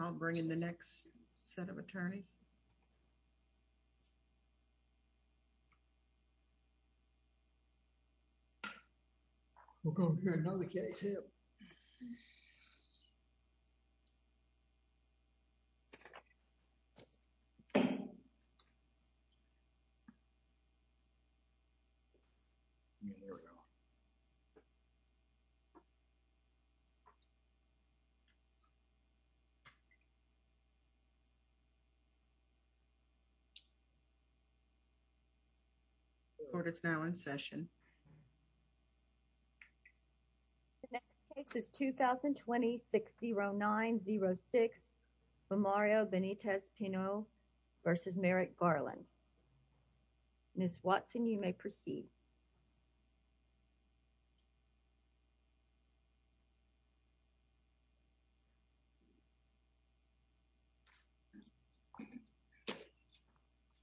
I'll bring in the next set of attorneys. The next case is 2020-60906, Romario Benitez-Pinot v. Merrick Garland. Ms. Watson, you may proceed.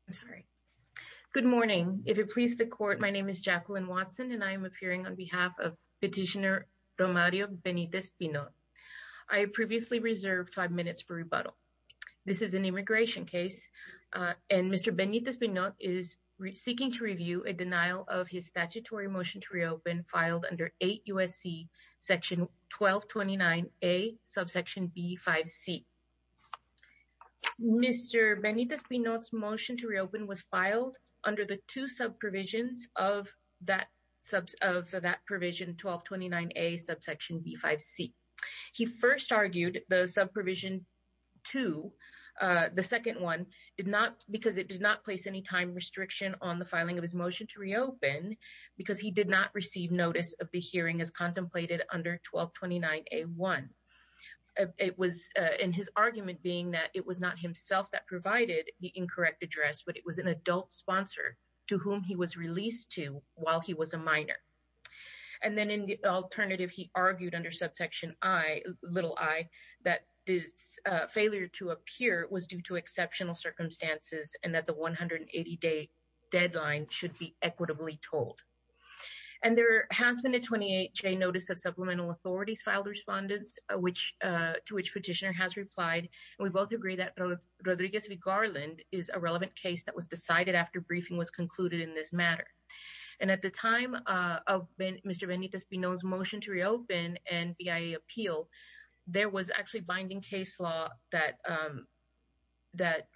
I'm sorry. Good morning. If it pleases the court, my name is Jacqueline Watson and I am appearing on behalf of Petitioner Romario Benitez-Pinot. I previously reserved five minutes for rebuttal. This is an immigration case and Mr. Benitez-Pinot is seeking to review a denial of his statutory motion to reopen filed under 8 U.S.C. section 1229A subsection B5C. Mr. Benitez-Pinot's motion to reopen was filed under the two sub-provisions of that provision 1229A subsection B5C. He first argued the sub-provision two, the second one, did not because it did not place any time restriction on the filing of his motion to reopen because he did not receive notice of the hearing as contemplated under 1229A1. It was in his argument being that it was not himself that provided the incorrect address but it was an adult sponsor to whom he was released to while he was a little I, that this failure to appear was due to exceptional circumstances and that the 180-day deadline should be equitably told. And there has been a 28-day notice of supplemental authorities filed respondents to which Petitioner has replied. We both agree that Rodriguez v. Garland is a relevant case that was decided after briefing was concluded in this matter. And at the time of Mr. Benitez-Pinot's motion to reopen and BIA appeal, there was actually binding case law that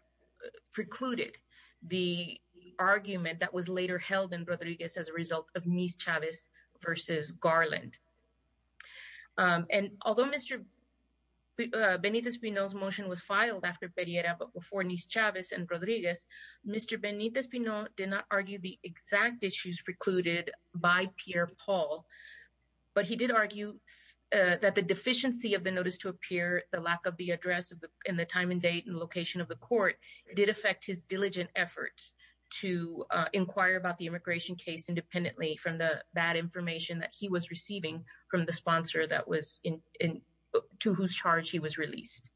precluded the argument that was later held in Rodriguez as a result of Nice-Chavez v. Garland. And although Mr. Benitez-Pinot's motion was filed after Pereira but before Nice-Chavez and Rodriguez, Mr. Benitez-Pinot did not argue the exact issues precluded by Pierre Paul, but he did argue that the deficiency of the notice to appear, the lack of the address and the time and date and location of the court did affect his diligent efforts to inquire about the immigration case independently from the bad information that he was receiving from the sponsor to whose charge he was released.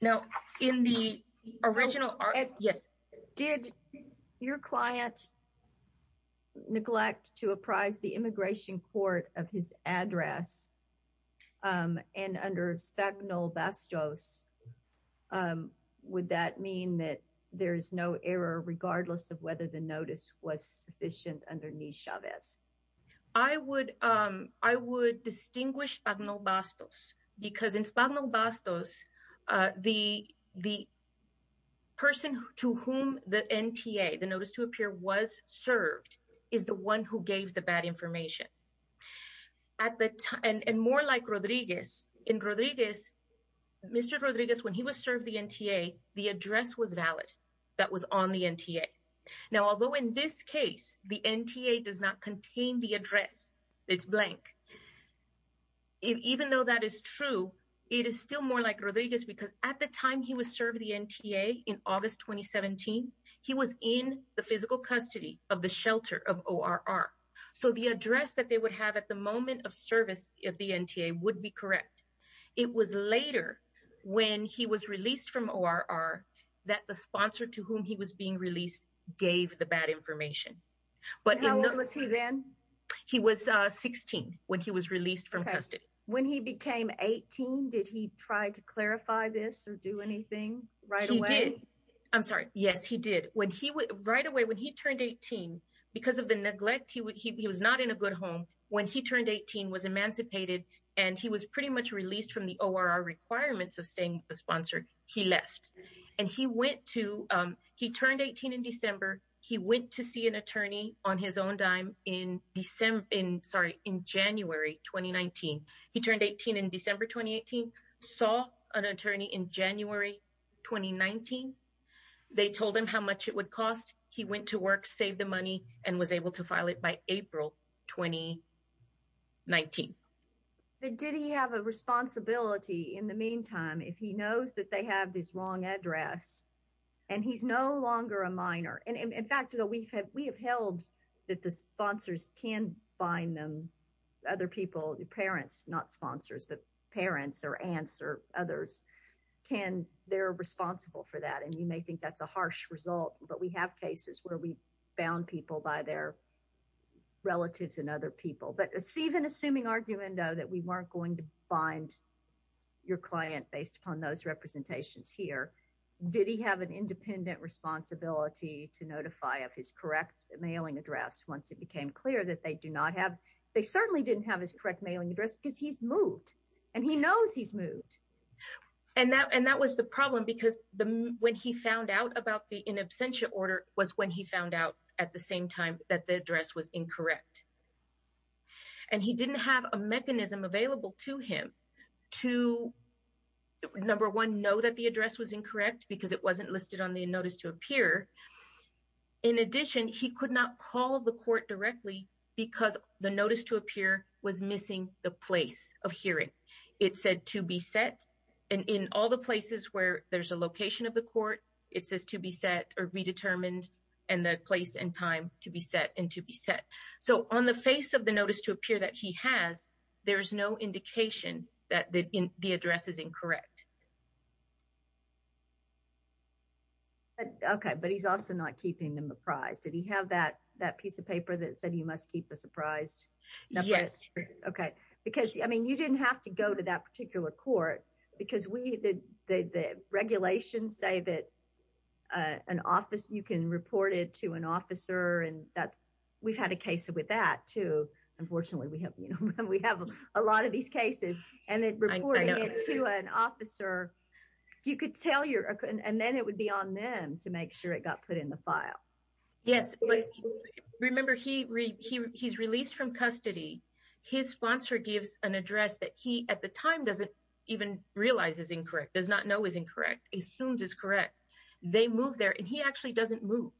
Now, in the original... Yes. Did your client neglect to apprise the immigration court of his address and under sphagnolbastos, would that mean that there is no error regardless of whether the notice was sufficient underneath Chavez? I would distinguish sphagnolbastos because in sphagnolbastos, the person to whom the NTA, the notice to appear was served is the one who gave the bad information. And more like Rodriguez, in Rodriguez, Mr. Rodriguez, when he was served the NTA, the address was valid that was on the NTA. Now, although in this case, the NTA does not contain the address, it's blank. Even though that is true, it is still more like Rodriguez because at the time he was served the NTA in August, 2017, he was in the physical custody of the shelter of ORR. So the address that they would have at the moment of service of the NTA would be correct. It was later when he was released from ORR that the sponsor to whom he was being released gave the bad information. But how old was he then? He was 16 when he was released from custody. When he became 18, did he try to clarify this or do anything right away? He did. I'm sorry. Yes, he did. Right away when he turned 18, because of the neglect, he was not in a good home. When he turned 18, was emancipated and he was pretty much released from the ORR requirements of staying with the sponsor, he left. And he went to, he turned 18 in December. He went to see an attorney on his own dime in December, in, sorry, in January, 2019. He turned 18 in December, 2018, saw an attorney in January, 2019. They told him how much it would cost. He went to work, saved the money and was able to in the meantime, if he knows that they have this wrong address and he's no longer a minor. And in fact, we have held that the sponsors can find them, other people, parents, not sponsors, but parents or aunts or others can, they're responsible for that. And you may think that's a harsh result, but we have cases where we bound people by their relatives and other people. But even assuming argument though, that we weren't going to bind your client based upon those representations here, did he have an independent responsibility to notify of his correct mailing address once it became clear that they do not have, they certainly didn't have his correct mailing address because he's moved and he knows he's moved. And that, and that was the problem because the, when he found out about the in absentia order was when he found out at the same time that the address was incorrect. And he didn't have a mechanism available to him to number one, know that the address was incorrect because it wasn't listed on the notice to appear. In addition, he could not call the court directly because the notice to appear was missing the place of hearing. It said to be set. And in all the places where there's a location of the court, it says to be set or be determined and the place and time to be set and to be set. So on the face of the notice to appear that he has, there is no indication that the address is incorrect. Okay. But he's also not keeping them apprised. Did he have that, that piece of paper that said you must keep a surprise? Yes. Okay. Because, I mean, you didn't have to go to that particular court because we, the regulations say that an office, you can report it to an officer and that's, we've had a case with that too. Unfortunately we have, you know, we have a lot of these cases and then reporting it to an officer, you could tell your, and then it would be on them to make sure it got put in the file. Yes. Remember he's released from custody. His sponsor gives an address that he at the time doesn't even realize is incorrect, does not know is incorrect, assumed is correct. They move there and he actually doesn't move.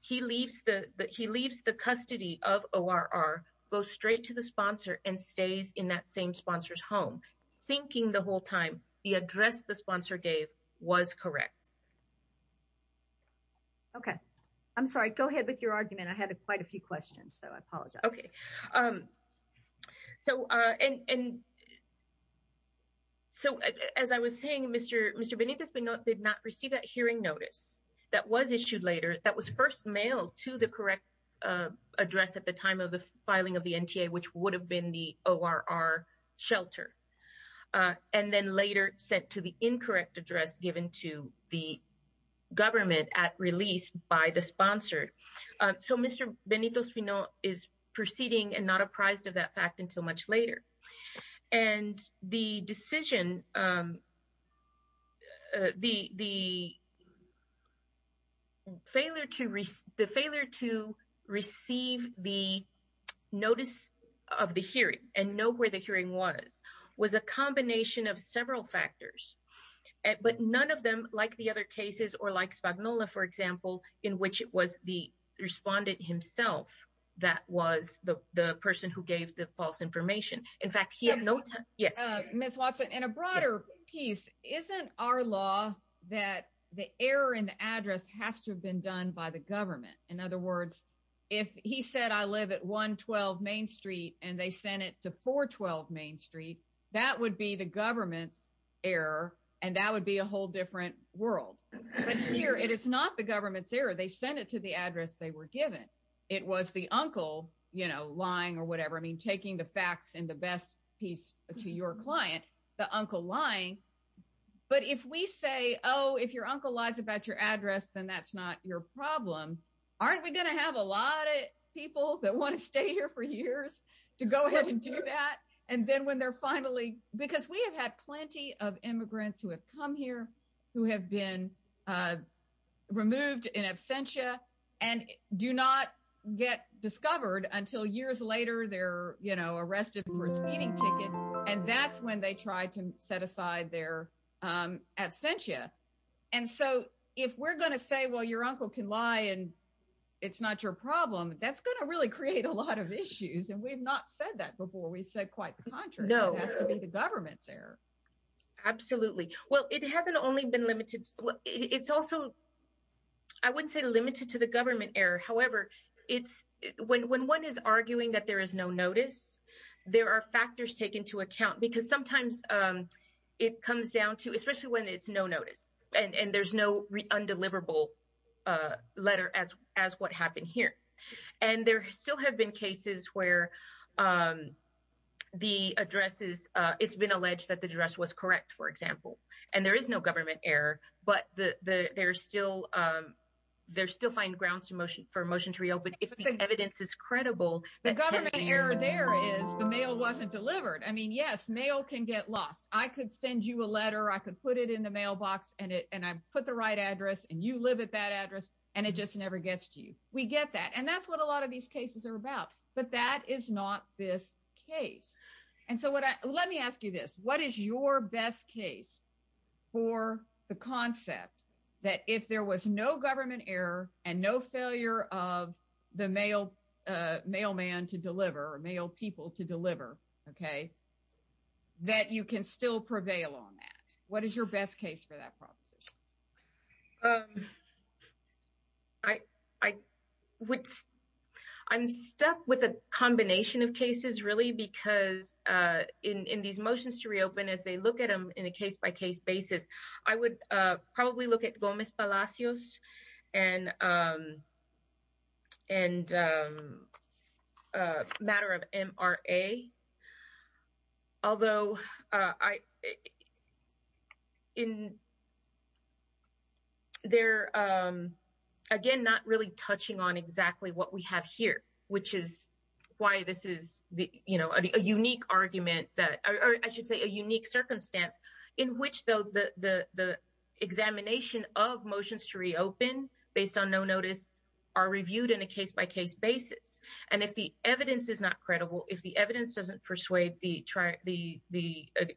He leaves the custody of ORR, goes straight to the sponsor and stays in that same sponsor's home thinking the whole time the address the sponsor gave was correct. Okay. I'm sorry, go ahead with your argument. I had quite a few questions, so I apologize. Okay. So, and, so as I was saying, Mr. Benitez did not receive that hearing notice that was issued later that was first mailed to the correct address at the time of the filing of the NTA, which would have been the ORR shelter. And then later sent to the incorrect address given to the government at release by the sponsor. So, Mr. Benitez is proceeding and not apprised of that fact until much later. And the decision, the failure to receive the notice of the hearing and know where the hearing was, was a combination of several factors. But none of them, like the other cases or like Spagnola, for example, in which it was the respondent himself that was the person who gave the false information. In fact, he had no time. Yes. Ms. Watson, in a broader piece, isn't our law that the error in the address has to have been done by the government? In other words, if he said, I live at 112 Main Street and they sent it to 412 Main Street, that would be the government's error and that would be a whole different world. But here, it is not the government's error. They sent it to the address they were given. It was the uncle lying or whatever. I mean, taking the facts and the best piece to your client, the uncle lying. But if we say, oh, if your uncle lies about your address, then that's not your problem. Aren't we going to have a lot of people that want to stay here for years to go ahead and do that? And then when they're finally, because we have had plenty of immigrants who have come here, who have been removed in absentia and do not get discovered until years later, they're arrested for a speeding ticket. And that's when they try to set aside their absentia. And so if we're going to say, well, your uncle can lie and it's not your problem, that's going to really create a lot of issues. And we've not said that before, we said quite the contrary. It has to be the government's error. Absolutely. Well, it hasn't only been limited. It's also, I wouldn't say limited to the government error. However, when one is arguing that there is no notice, there are factors taken to account because sometimes it comes down to, especially when it's no notice and there's no undeliverable letter as what happened here. And there still have been cases where the addresses, it's been alleged that the address was correct, for example, and there is no government error, but they're still finding grounds for motion to reopen. If the evidence is credible. The government error there is the mail wasn't delivered. I mean, yes, mail can get lost. I could send you a letter, I could put it in the mailbox and I put the right address and it just never gets to you. We get that. And that's what a lot of these cases are about, but that is not this case. And so what I, let me ask you this, what is your best case for the concept that if there was no government error and no failure of the mail, mailman to deliver or mail people to deliver, okay. That you can still prevail on that. What is your best case for that proposition? I would, I'm stuck with a combination of cases really because in these motions to reopen as they look at them in a case by case basis, I would probably look at Gomez and they're again, not really touching on exactly what we have here, which is why this is a unique argument that, or I should say a unique circumstance in which though the examination of motions to reopen based on no notice are reviewed in a case by case basis. And if the evidence is not credible, if the evidence doesn't persuade the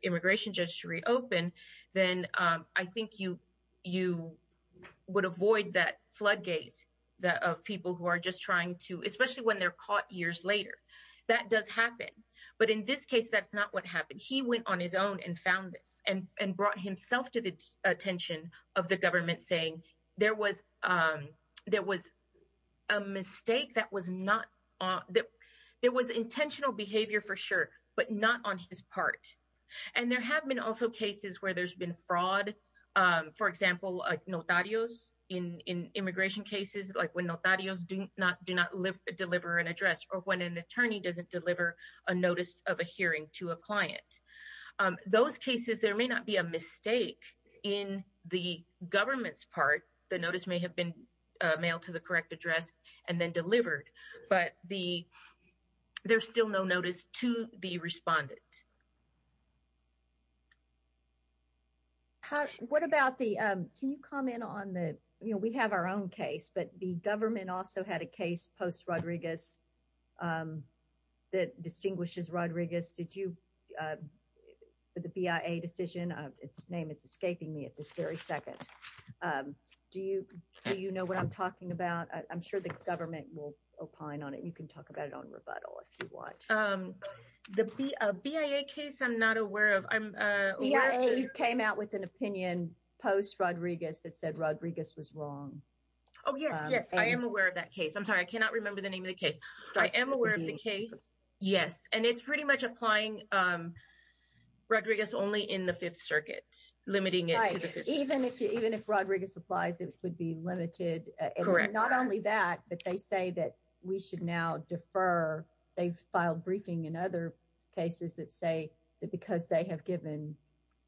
immigration judge to reopen, then I think you would avoid that floodgate of people who are just trying to, especially when they're caught years later. That does happen. But in this case, that's not what happened. He went on his own and found this and brought himself to the attention of the government saying there was a mistake that was not, there was intentional behavior for sure, but not on his part. And there have been also cases where there's been fraud, for example, notarios in immigration cases, like when notarios do not deliver an address or when an attorney doesn't deliver a notice of a hearing to a client. Those cases, there may not be a mistake in the government's part. The notice may have been mailed to the correct address and then delivered, but there's no notice to the respondent. What about the, can you comment on the, we have our own case, but the government also had a case post Rodriguez that distinguishes Rodriguez. Did you, the BIA decision, its name is escaping me at this very second. Do you know what I'm talking about? I'm sure the government will opine on it. You can talk about it on rebuttal if you want. The BIA case, I'm not aware of. BIA came out with an opinion post Rodriguez that said Rodriguez was wrong. Oh yes, yes. I am aware of that case. I'm sorry, I cannot remember the name of the case. I am aware of the case. Yes. And it's pretty much applying Rodriguez only in the fifth circuit, limiting it to the fifth. Right. Even if Rodriguez applies, it would be limited. Correct. Not only that, but they say that we should now defer. They've filed briefing in other cases that say that because they have given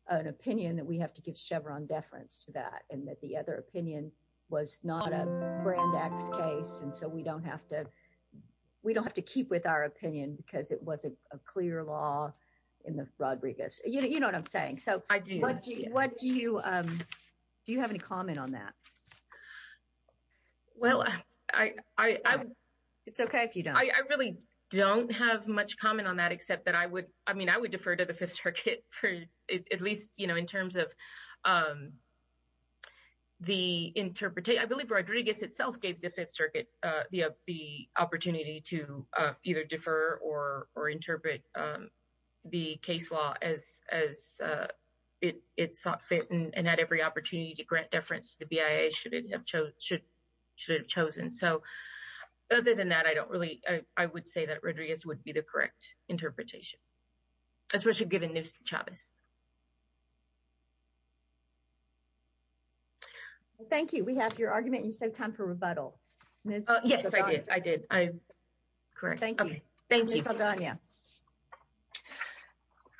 an opinion that we have to give Chevron deference to that and that the other opinion was not a brand X case. And so we don't have to, we don't have to keep with our opinion because it wasn't a clear law in the Rodriguez. You know what I'm saying? So what do do you have any comment on that? Well, it's okay if you don't. I really don't have much comment on that except that I would, I mean, I would defer to the fifth circuit for at least, you know, in terms of the interpretation. I believe Rodriguez itself gave the fifth circuit the opportunity to either defer or interpret the case law as it sought fit and had every opportunity to grant deference to BIA should it have chosen. So other than that, I don't really, I would say that Rodriguez would be the correct interpretation, especially given Chavez. Well, thank you. We have your argument and you said time for rebuttal. Yes, I did. I did. I'm correct. Thank you. Thank you.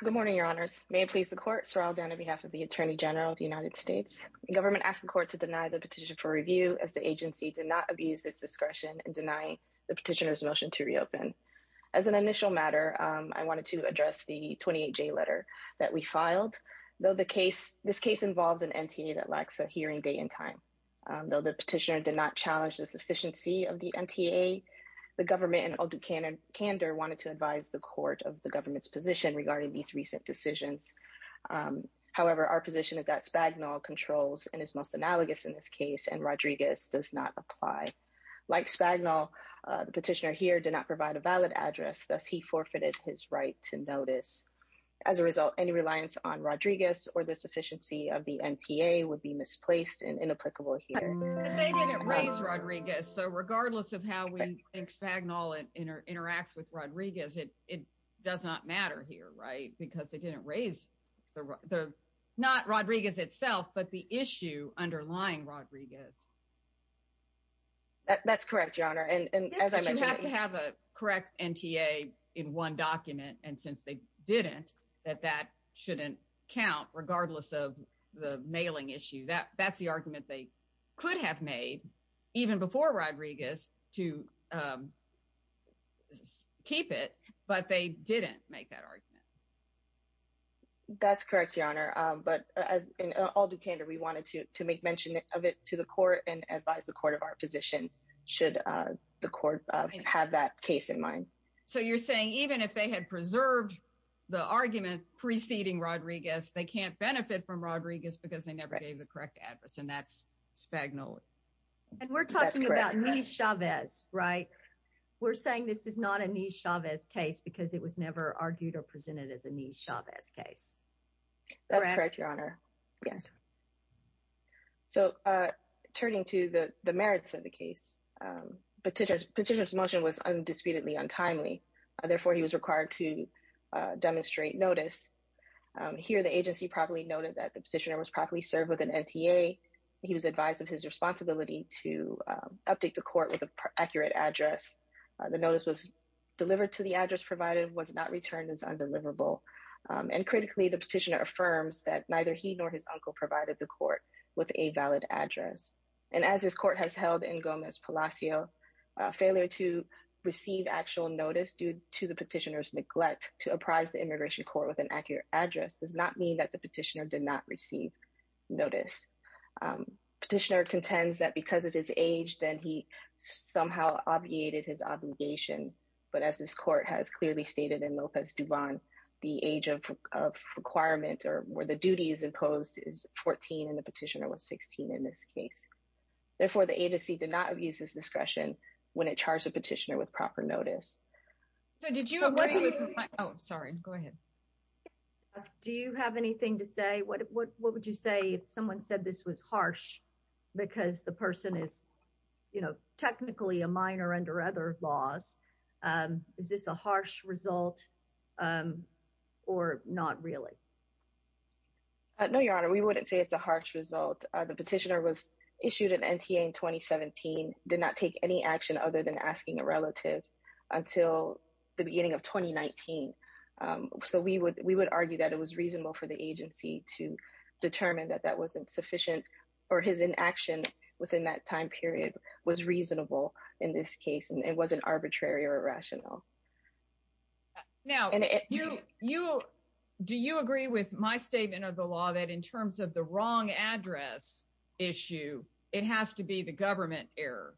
Good morning, your honors. May it please the court. So I'll down on behalf of the attorney general of the United States government asked the court to deny the petition for review as the agency did not abuse its discretion and deny the petitioner's motion to reopen. As an initial matter, I wanted to address the 28 J letter that was submitted by the attorney general of the United States government. The petitioner did not challenge the sufficiency of the NTA. The government and Aldo Kander wanted to advise the court of the government's position regarding these recent decisions. However, our position is that Spagnol controls and is most analogous in this case and Rodriguez does not apply. Like Spagnol, the petitioner here did not provide a valid address. Thus, he forfeited his right to notice. As a result, any reliance on Rodriguez or the sufficiency of the NTA would be misplaced and inapplicable here. But they didn't raise Rodriguez. So regardless of how we think Spagnol interacts with Rodriguez, it does not matter here, right? Because they didn't raise the, not Rodriguez itself, but the issue underlying Rodriguez. That's correct, your honor. And as I mentioned, to have a correct NTA in one document. And since they didn't, that that shouldn't count regardless of the mailing issue, that that's the argument they could have made even before Rodriguez to keep it, but they didn't make that argument. That's correct, your honor. But as Aldo Kander, we wanted to make mention of it to the court and advise the court of our position. Should the court have that case in mind. So you're saying even if they had preserved the argument preceding Rodriguez, they can't benefit from Rodriguez because they never gave the correct address and that's Spagnol. And we're talking about Nis Chavez, right? We're saying this is not a Nis Chavez case because it was never argued or presented as a Nis Chavez case. That's correct, your honor. Yes. So turning to the merits of the case, petitioner's motion was undisputedly untimely. Therefore, he was required to demonstrate notice. Here, the agency properly noted that the petitioner was properly served with an NTA. He was advised of his responsibility to update the court with an accurate address. The notice was delivered to the address provided was not returned as undeliverable. And critically, the petitioner affirms that neither he nor his uncle provided the court with a valid address. And as this court has held in Gomez Palacio, failure to receive actual notice due to the petitioner's neglect to apprise the immigration court with an accurate address does not mean that the petitioner did not receive notice. Petitioner contends that because of his age, then he somehow obviated his obligation. But as this court has in the petitioner was 16 in this case. Therefore, the agency did not use this discretion when it charged the petitioner with proper notice. So did you agree? Oh, sorry. Go ahead. Do you have anything to say? What would you say if someone said this was harsh? Because the person is, you know, technically a minor under other laws? Is this a harsh result? Or not really? No, Your Honor, we wouldn't say it's a harsh result. The petitioner was issued an NTA in 2017, did not take any action other than asking a relative until the beginning of 2019. So we would we would argue that it was reasonable for the agency to determine that that wasn't sufficient, or his inaction within that time period was reasonable. In this case, it wasn't arbitrary or with my statement of the law that in terms of the wrong address issue, it has to be the government error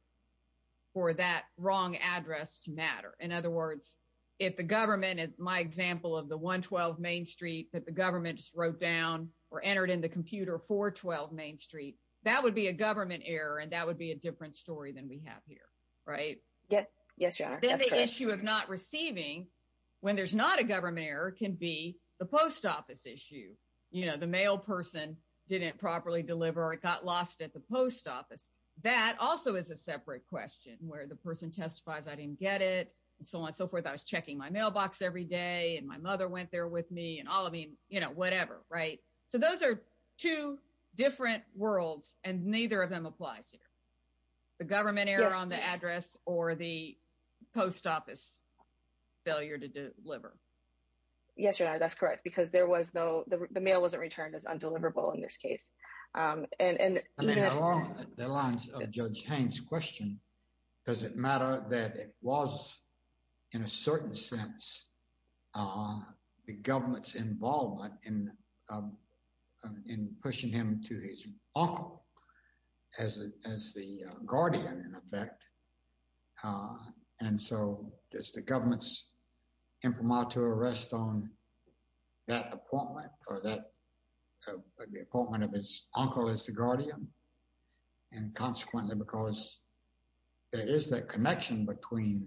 for that wrong address to matter. In other words, if the government is my example of the 112 Main Street that the government wrote down or entered in the computer for 12 Main Street, that would be a government error. And that would be a different story than we have here. Right? Yes. Yes, Your Honor. The issue of not receiving when there's not a government error can be the post office issue. You know, the mail person didn't properly deliver it got lost at the post office. That also is a separate question where the person testifies, I didn't get it, and so on and so forth. I was checking my mailbox every day. And my mother went there with me and all I mean, you know, whatever, right. So those are two different worlds. And neither of them applies here. The government error on the address or the post office failure to deliver. Yes, Your Honor, that's correct. Because there was no the mail wasn't returned as undeliverable in this case. And along the lines of Judge Haines' question, does it matter that it was, in a certain sense, the government's involvement in pushing him to his uncle as the guardian in effect? And so does the government's arrest on that appointment for that appointment of his uncle as the guardian? And consequently, because there is that connection between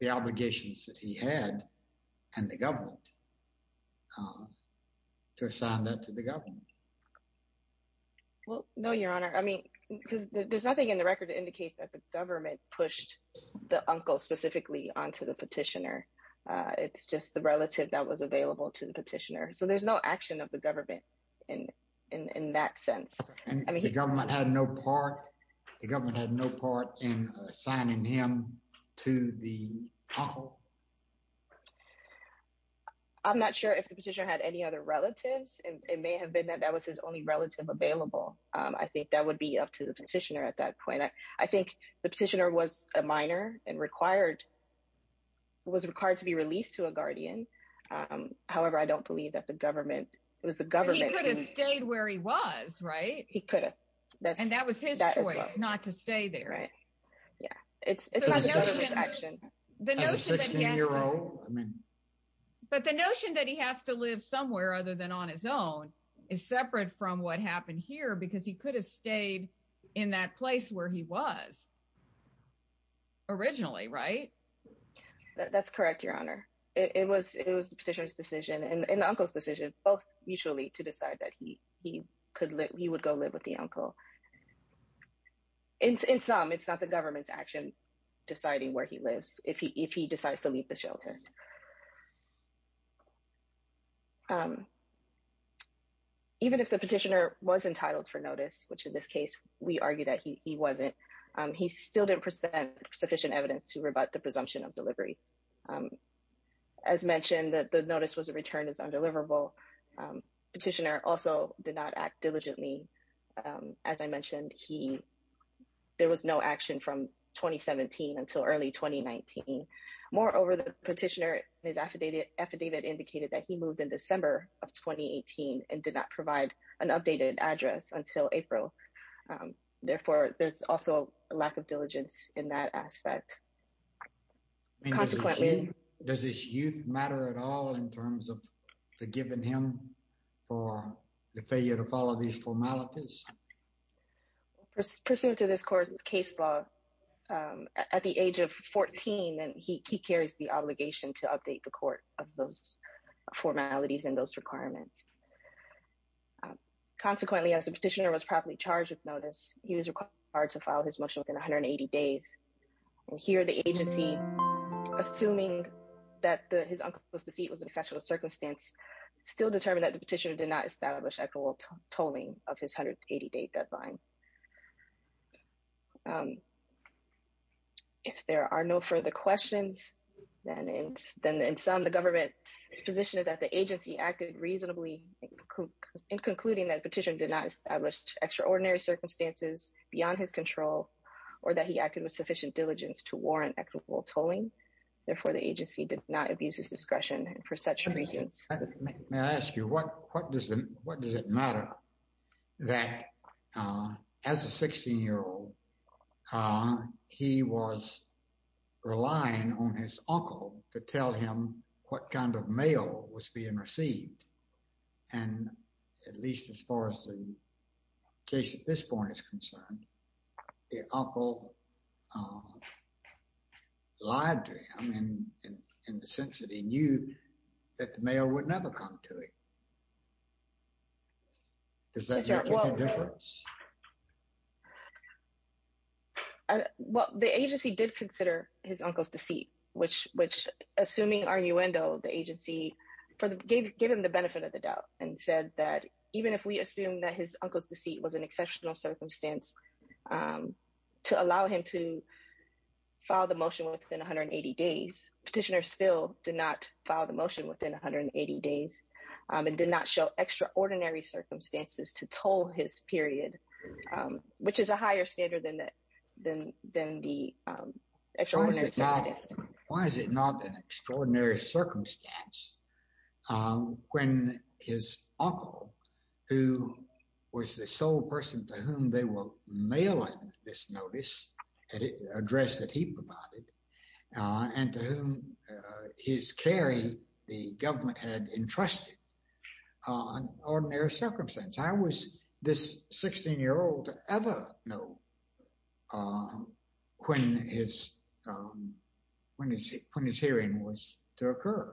the obligations that he had and the government to assign that to the government? Well, no, Your Honor, I mean, because there's nothing in the record indicates that the government pushed the uncle specifically onto the petitioner. It's just the relative that was available to the petitioner. So there's no action of the government in that sense. I mean, the government had no part, the government had no part in assigning him to the uncle? I'm not sure if the petitioner had any other relatives. It may have been that that was his only relative available. I think that would be up to the petitioner at that point. I think that was required to be released to a guardian. However, I don't believe that the government, it was the government. He could have stayed where he was, right? He could have. And that was his choice, not to stay there. Right. Yeah. It's the notion that he has to live somewhere other than on his own is separate from what happened here because he could have stayed in that place where he was originally, right? That's correct, Your Honor. It was the petitioner's decision and the uncle's decision both mutually to decide that he would go live with the uncle. In sum, it's not the government's action deciding where he lives if he decides to leave the shelter. Even if the petitioner was entitled for notice, which in this case, we argue that he wasn't, he still didn't present sufficient evidence to rebut the presumption of delivery. As mentioned, that the notice was a return is undeliverable. Petitioner also did not act diligently. As I mentioned, there was no action from 2017 until early 2019. Moreover, the petitioner his affidavit indicated that he moved in December of 2018 and did not provide an updated address until April. Therefore, there's also a lack of diligence in that aspect. Does his youth matter at all in terms of forgiving him for the failure to follow these formalities? Pursuant to this court's case law, at the age of 14, he carries the obligation to update the court of those formalities and those requirements. Consequently, as the petitioner was properly charged with notice, he was required to file his motion within 180 days. Here, the agency, assuming that his uncle's deceit was an exceptional circumstance, still determined that the petitioner established equitable tolling of his 180-day deadline. If there are no further questions, then in sum, the government's position is that the agency acted reasonably in concluding that petitioner did not establish extraordinary circumstances beyond his control or that he acted with sufficient diligence to warrant equitable tolling. Therefore, the agency did not abuse his discretion for such reasons. May I ask you, what does it matter that as a 16-year-old, he was relying on his uncle to tell him what kind of mail was being received? And at least as far as the case at this point is concerned, the uncle lied to him in the sense that he knew that the mail would never come to him. Does that make a difference? Well, the agency did consider his uncle's deceit, which, assuming arguendo, the agency gave him the benefit of the doubt and said that even if we assume that his uncle's deceit was an exceptional circumstance to allow him to file the motion within 180 days, petitioner still did not file the motion within 180 days and did not show extraordinary circumstances to toll his period, which is a higher standard than the extraordinary circumstances. Why is it not an extraordinary circumstance when his uncle, who was the sole person to whom they were mailing this notice, address that he provided, and to whom his carry, the government had entrusted, an ordinary circumstance? How was this 16-year-old to ever know when his hearing was to occur?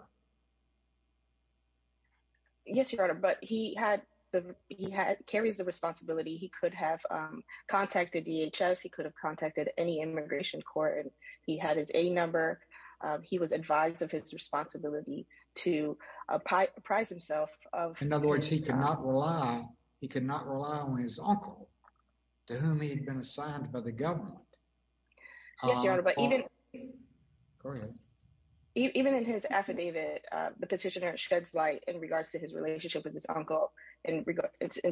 Yes, Your Honor, but he carries the responsibility. He could have contacted DHS. He could have contacted any immigration court. He had his A number. He was advised of his responsibility to apprise himself. In other words, he could not rely on his uncle, to whom he'd been assigned by the government. Yes, Your Honor, but even in his affidavit, the petitioner sheds light in regards to his relationship with his uncle in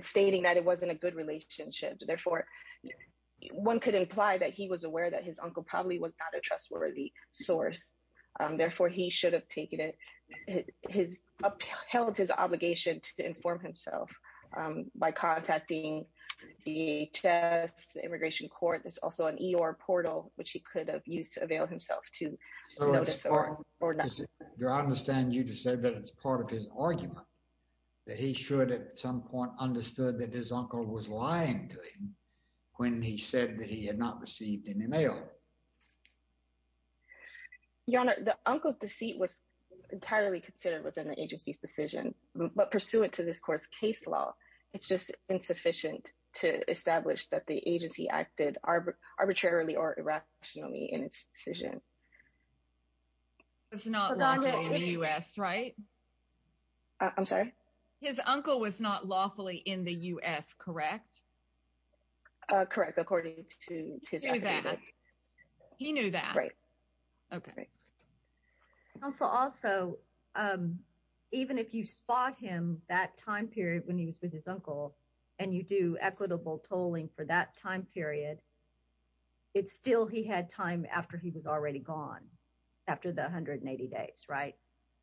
stating that it wasn't a good relationship. Therefore, one could imply that he was aware that his uncle probably was not a trustworthy source. Therefore, he should have upheld his obligation to inform himself by contacting DHS, the immigration court. There's also an EOR portal, which he could have used to avail himself to notice or not. Your Honor, I understand you just said that it's part of his argument that he should, at some point, understood that his uncle was lying to him when he said that he had not received any mail. Your Honor, the uncle's deceit was entirely considered within the agency's decision, but pursuant to this court's case law, it's just insufficient to establish that the agency acted arbitrarily or irrationally in its decision. It's not lawful in the U.S., right? I'm sorry? His uncle was not lawfully in the U.S., correct? Correct, according to his... He knew that. He knew that. Right. Okay. Counsel, also, even if you spot him that time period when he was with his uncle, and you do equitable tolling for that time period, it's still he had time after he was already gone after the 180 days, right?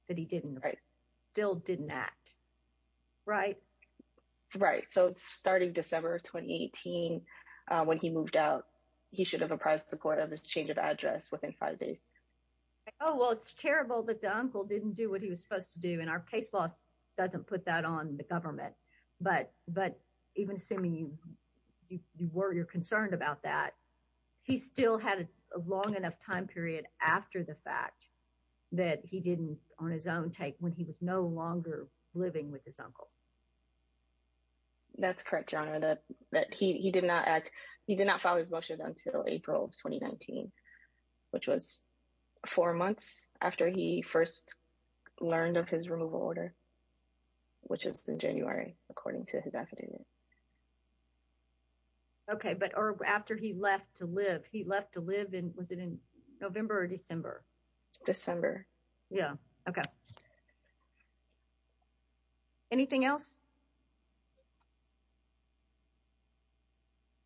That he didn't... Right. ...still didn't act, right? Right. So, starting December of 2018, when he moved out, he should have apprised the court of his change of address within five days. Oh, well, it's terrible that the uncle didn't do what he was supposed to do, and our case law doesn't put that on the government, but even assuming you're concerned about that, he still had a long enough time period after the fact that he didn't, on his own take, when he was no longer living with his uncle. That's correct, Your Honor, that he did not act... He did not file his motion until April of 2019, which was four months after he first learned of his removal order, which was in January, according to his affidavit. Okay, but after he left to live, he left to live in... Was it in November or December? December. Yeah. Okay. Okay. Anything else?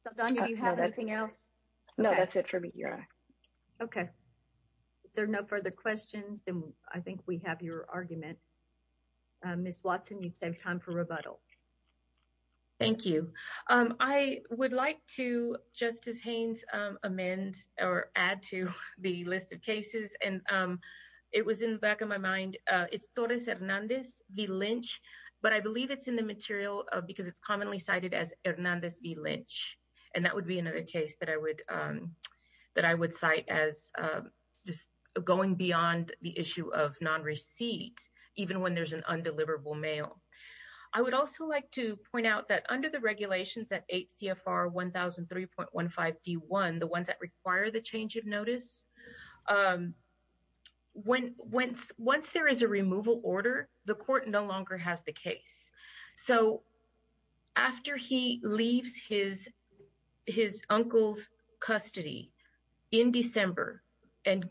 Saldana, do you have anything else? No, that's it for me, Your Honor. Okay. If there are no further questions, then I think we have your argument. Ms. Watson, you'd save time for rebuttal. Thank you. I would like to, Justice Haynes, amend or add to the list of cases, and it was in the back of my mind, it's Torres Hernandez v. Lynch, but I believe it's in the material because it's commonly cited as Hernandez v. Lynch, and that would be another case that I would cite as just going beyond the issue of non-receipt, even when there's an undeliverable mail. I would also like to point out that under the regulations at 8 CFR 1003.15 D1, the ones that require the change of notice, once there is a removal order, the court no longer has the case. So, after he leaves his uncle's custody in December and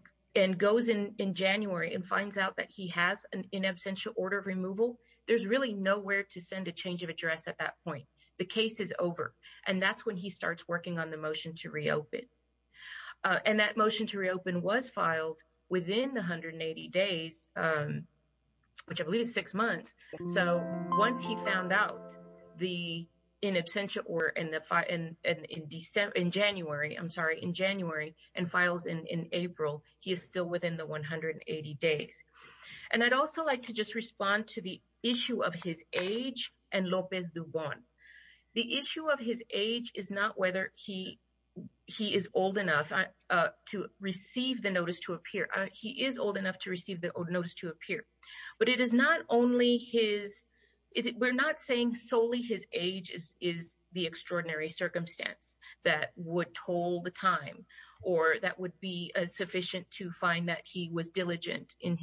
goes in January and finds out that he has an in absentia order of removal, there's really nowhere to send a change of And that motion to reopen was filed within the 180 days, which I believe is six months. So, once he found out the in absentia order in January and files in April, he is still within the 180 days. And I'd also like to just respond to the issue of his age and Lopez Dubon. The issue of his age is not whether he is old enough to receive the notice to appear. He is old enough to receive the notice to appear. But it is not only his, we're not saying solely his age is the extraordinary circumstance that would toll the time or that would be sufficient to find that he was diligent in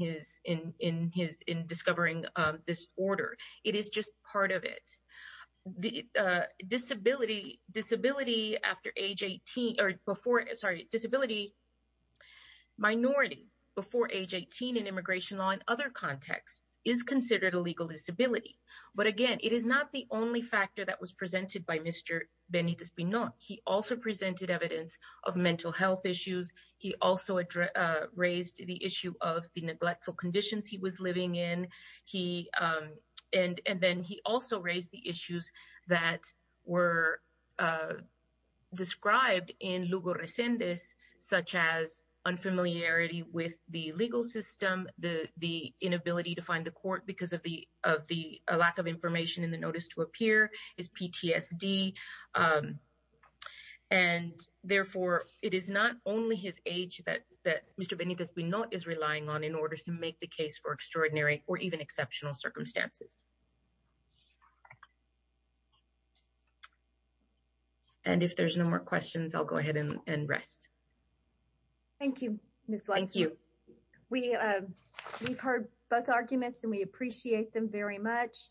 discovering this order. It is just part of it. Disability after age 18 or before, sorry, disability minority before age 18 in immigration law and other contexts is considered a legal disability. But again, it is not the only factor that was presented by Mr. Benitez-Pinon. He also presented evidence of mental health issues. He also raised the issue of the neglectful conditions he was living in. And then he also raised the issues that were described in Lugo Rescindes such as unfamiliarity with the legal system, the inability to find the court because of the lack of information in the notice to appear, his PTSD. And therefore, it is not only his age that Mr. Benitez-Pinon is relying on in order to make the case for extraordinary or even exceptional circumstances. And if there's no more questions, I'll go ahead and rest. Thank you, Ms. Weiss. Thank you. We've heard both arguments and we appreciate them very much.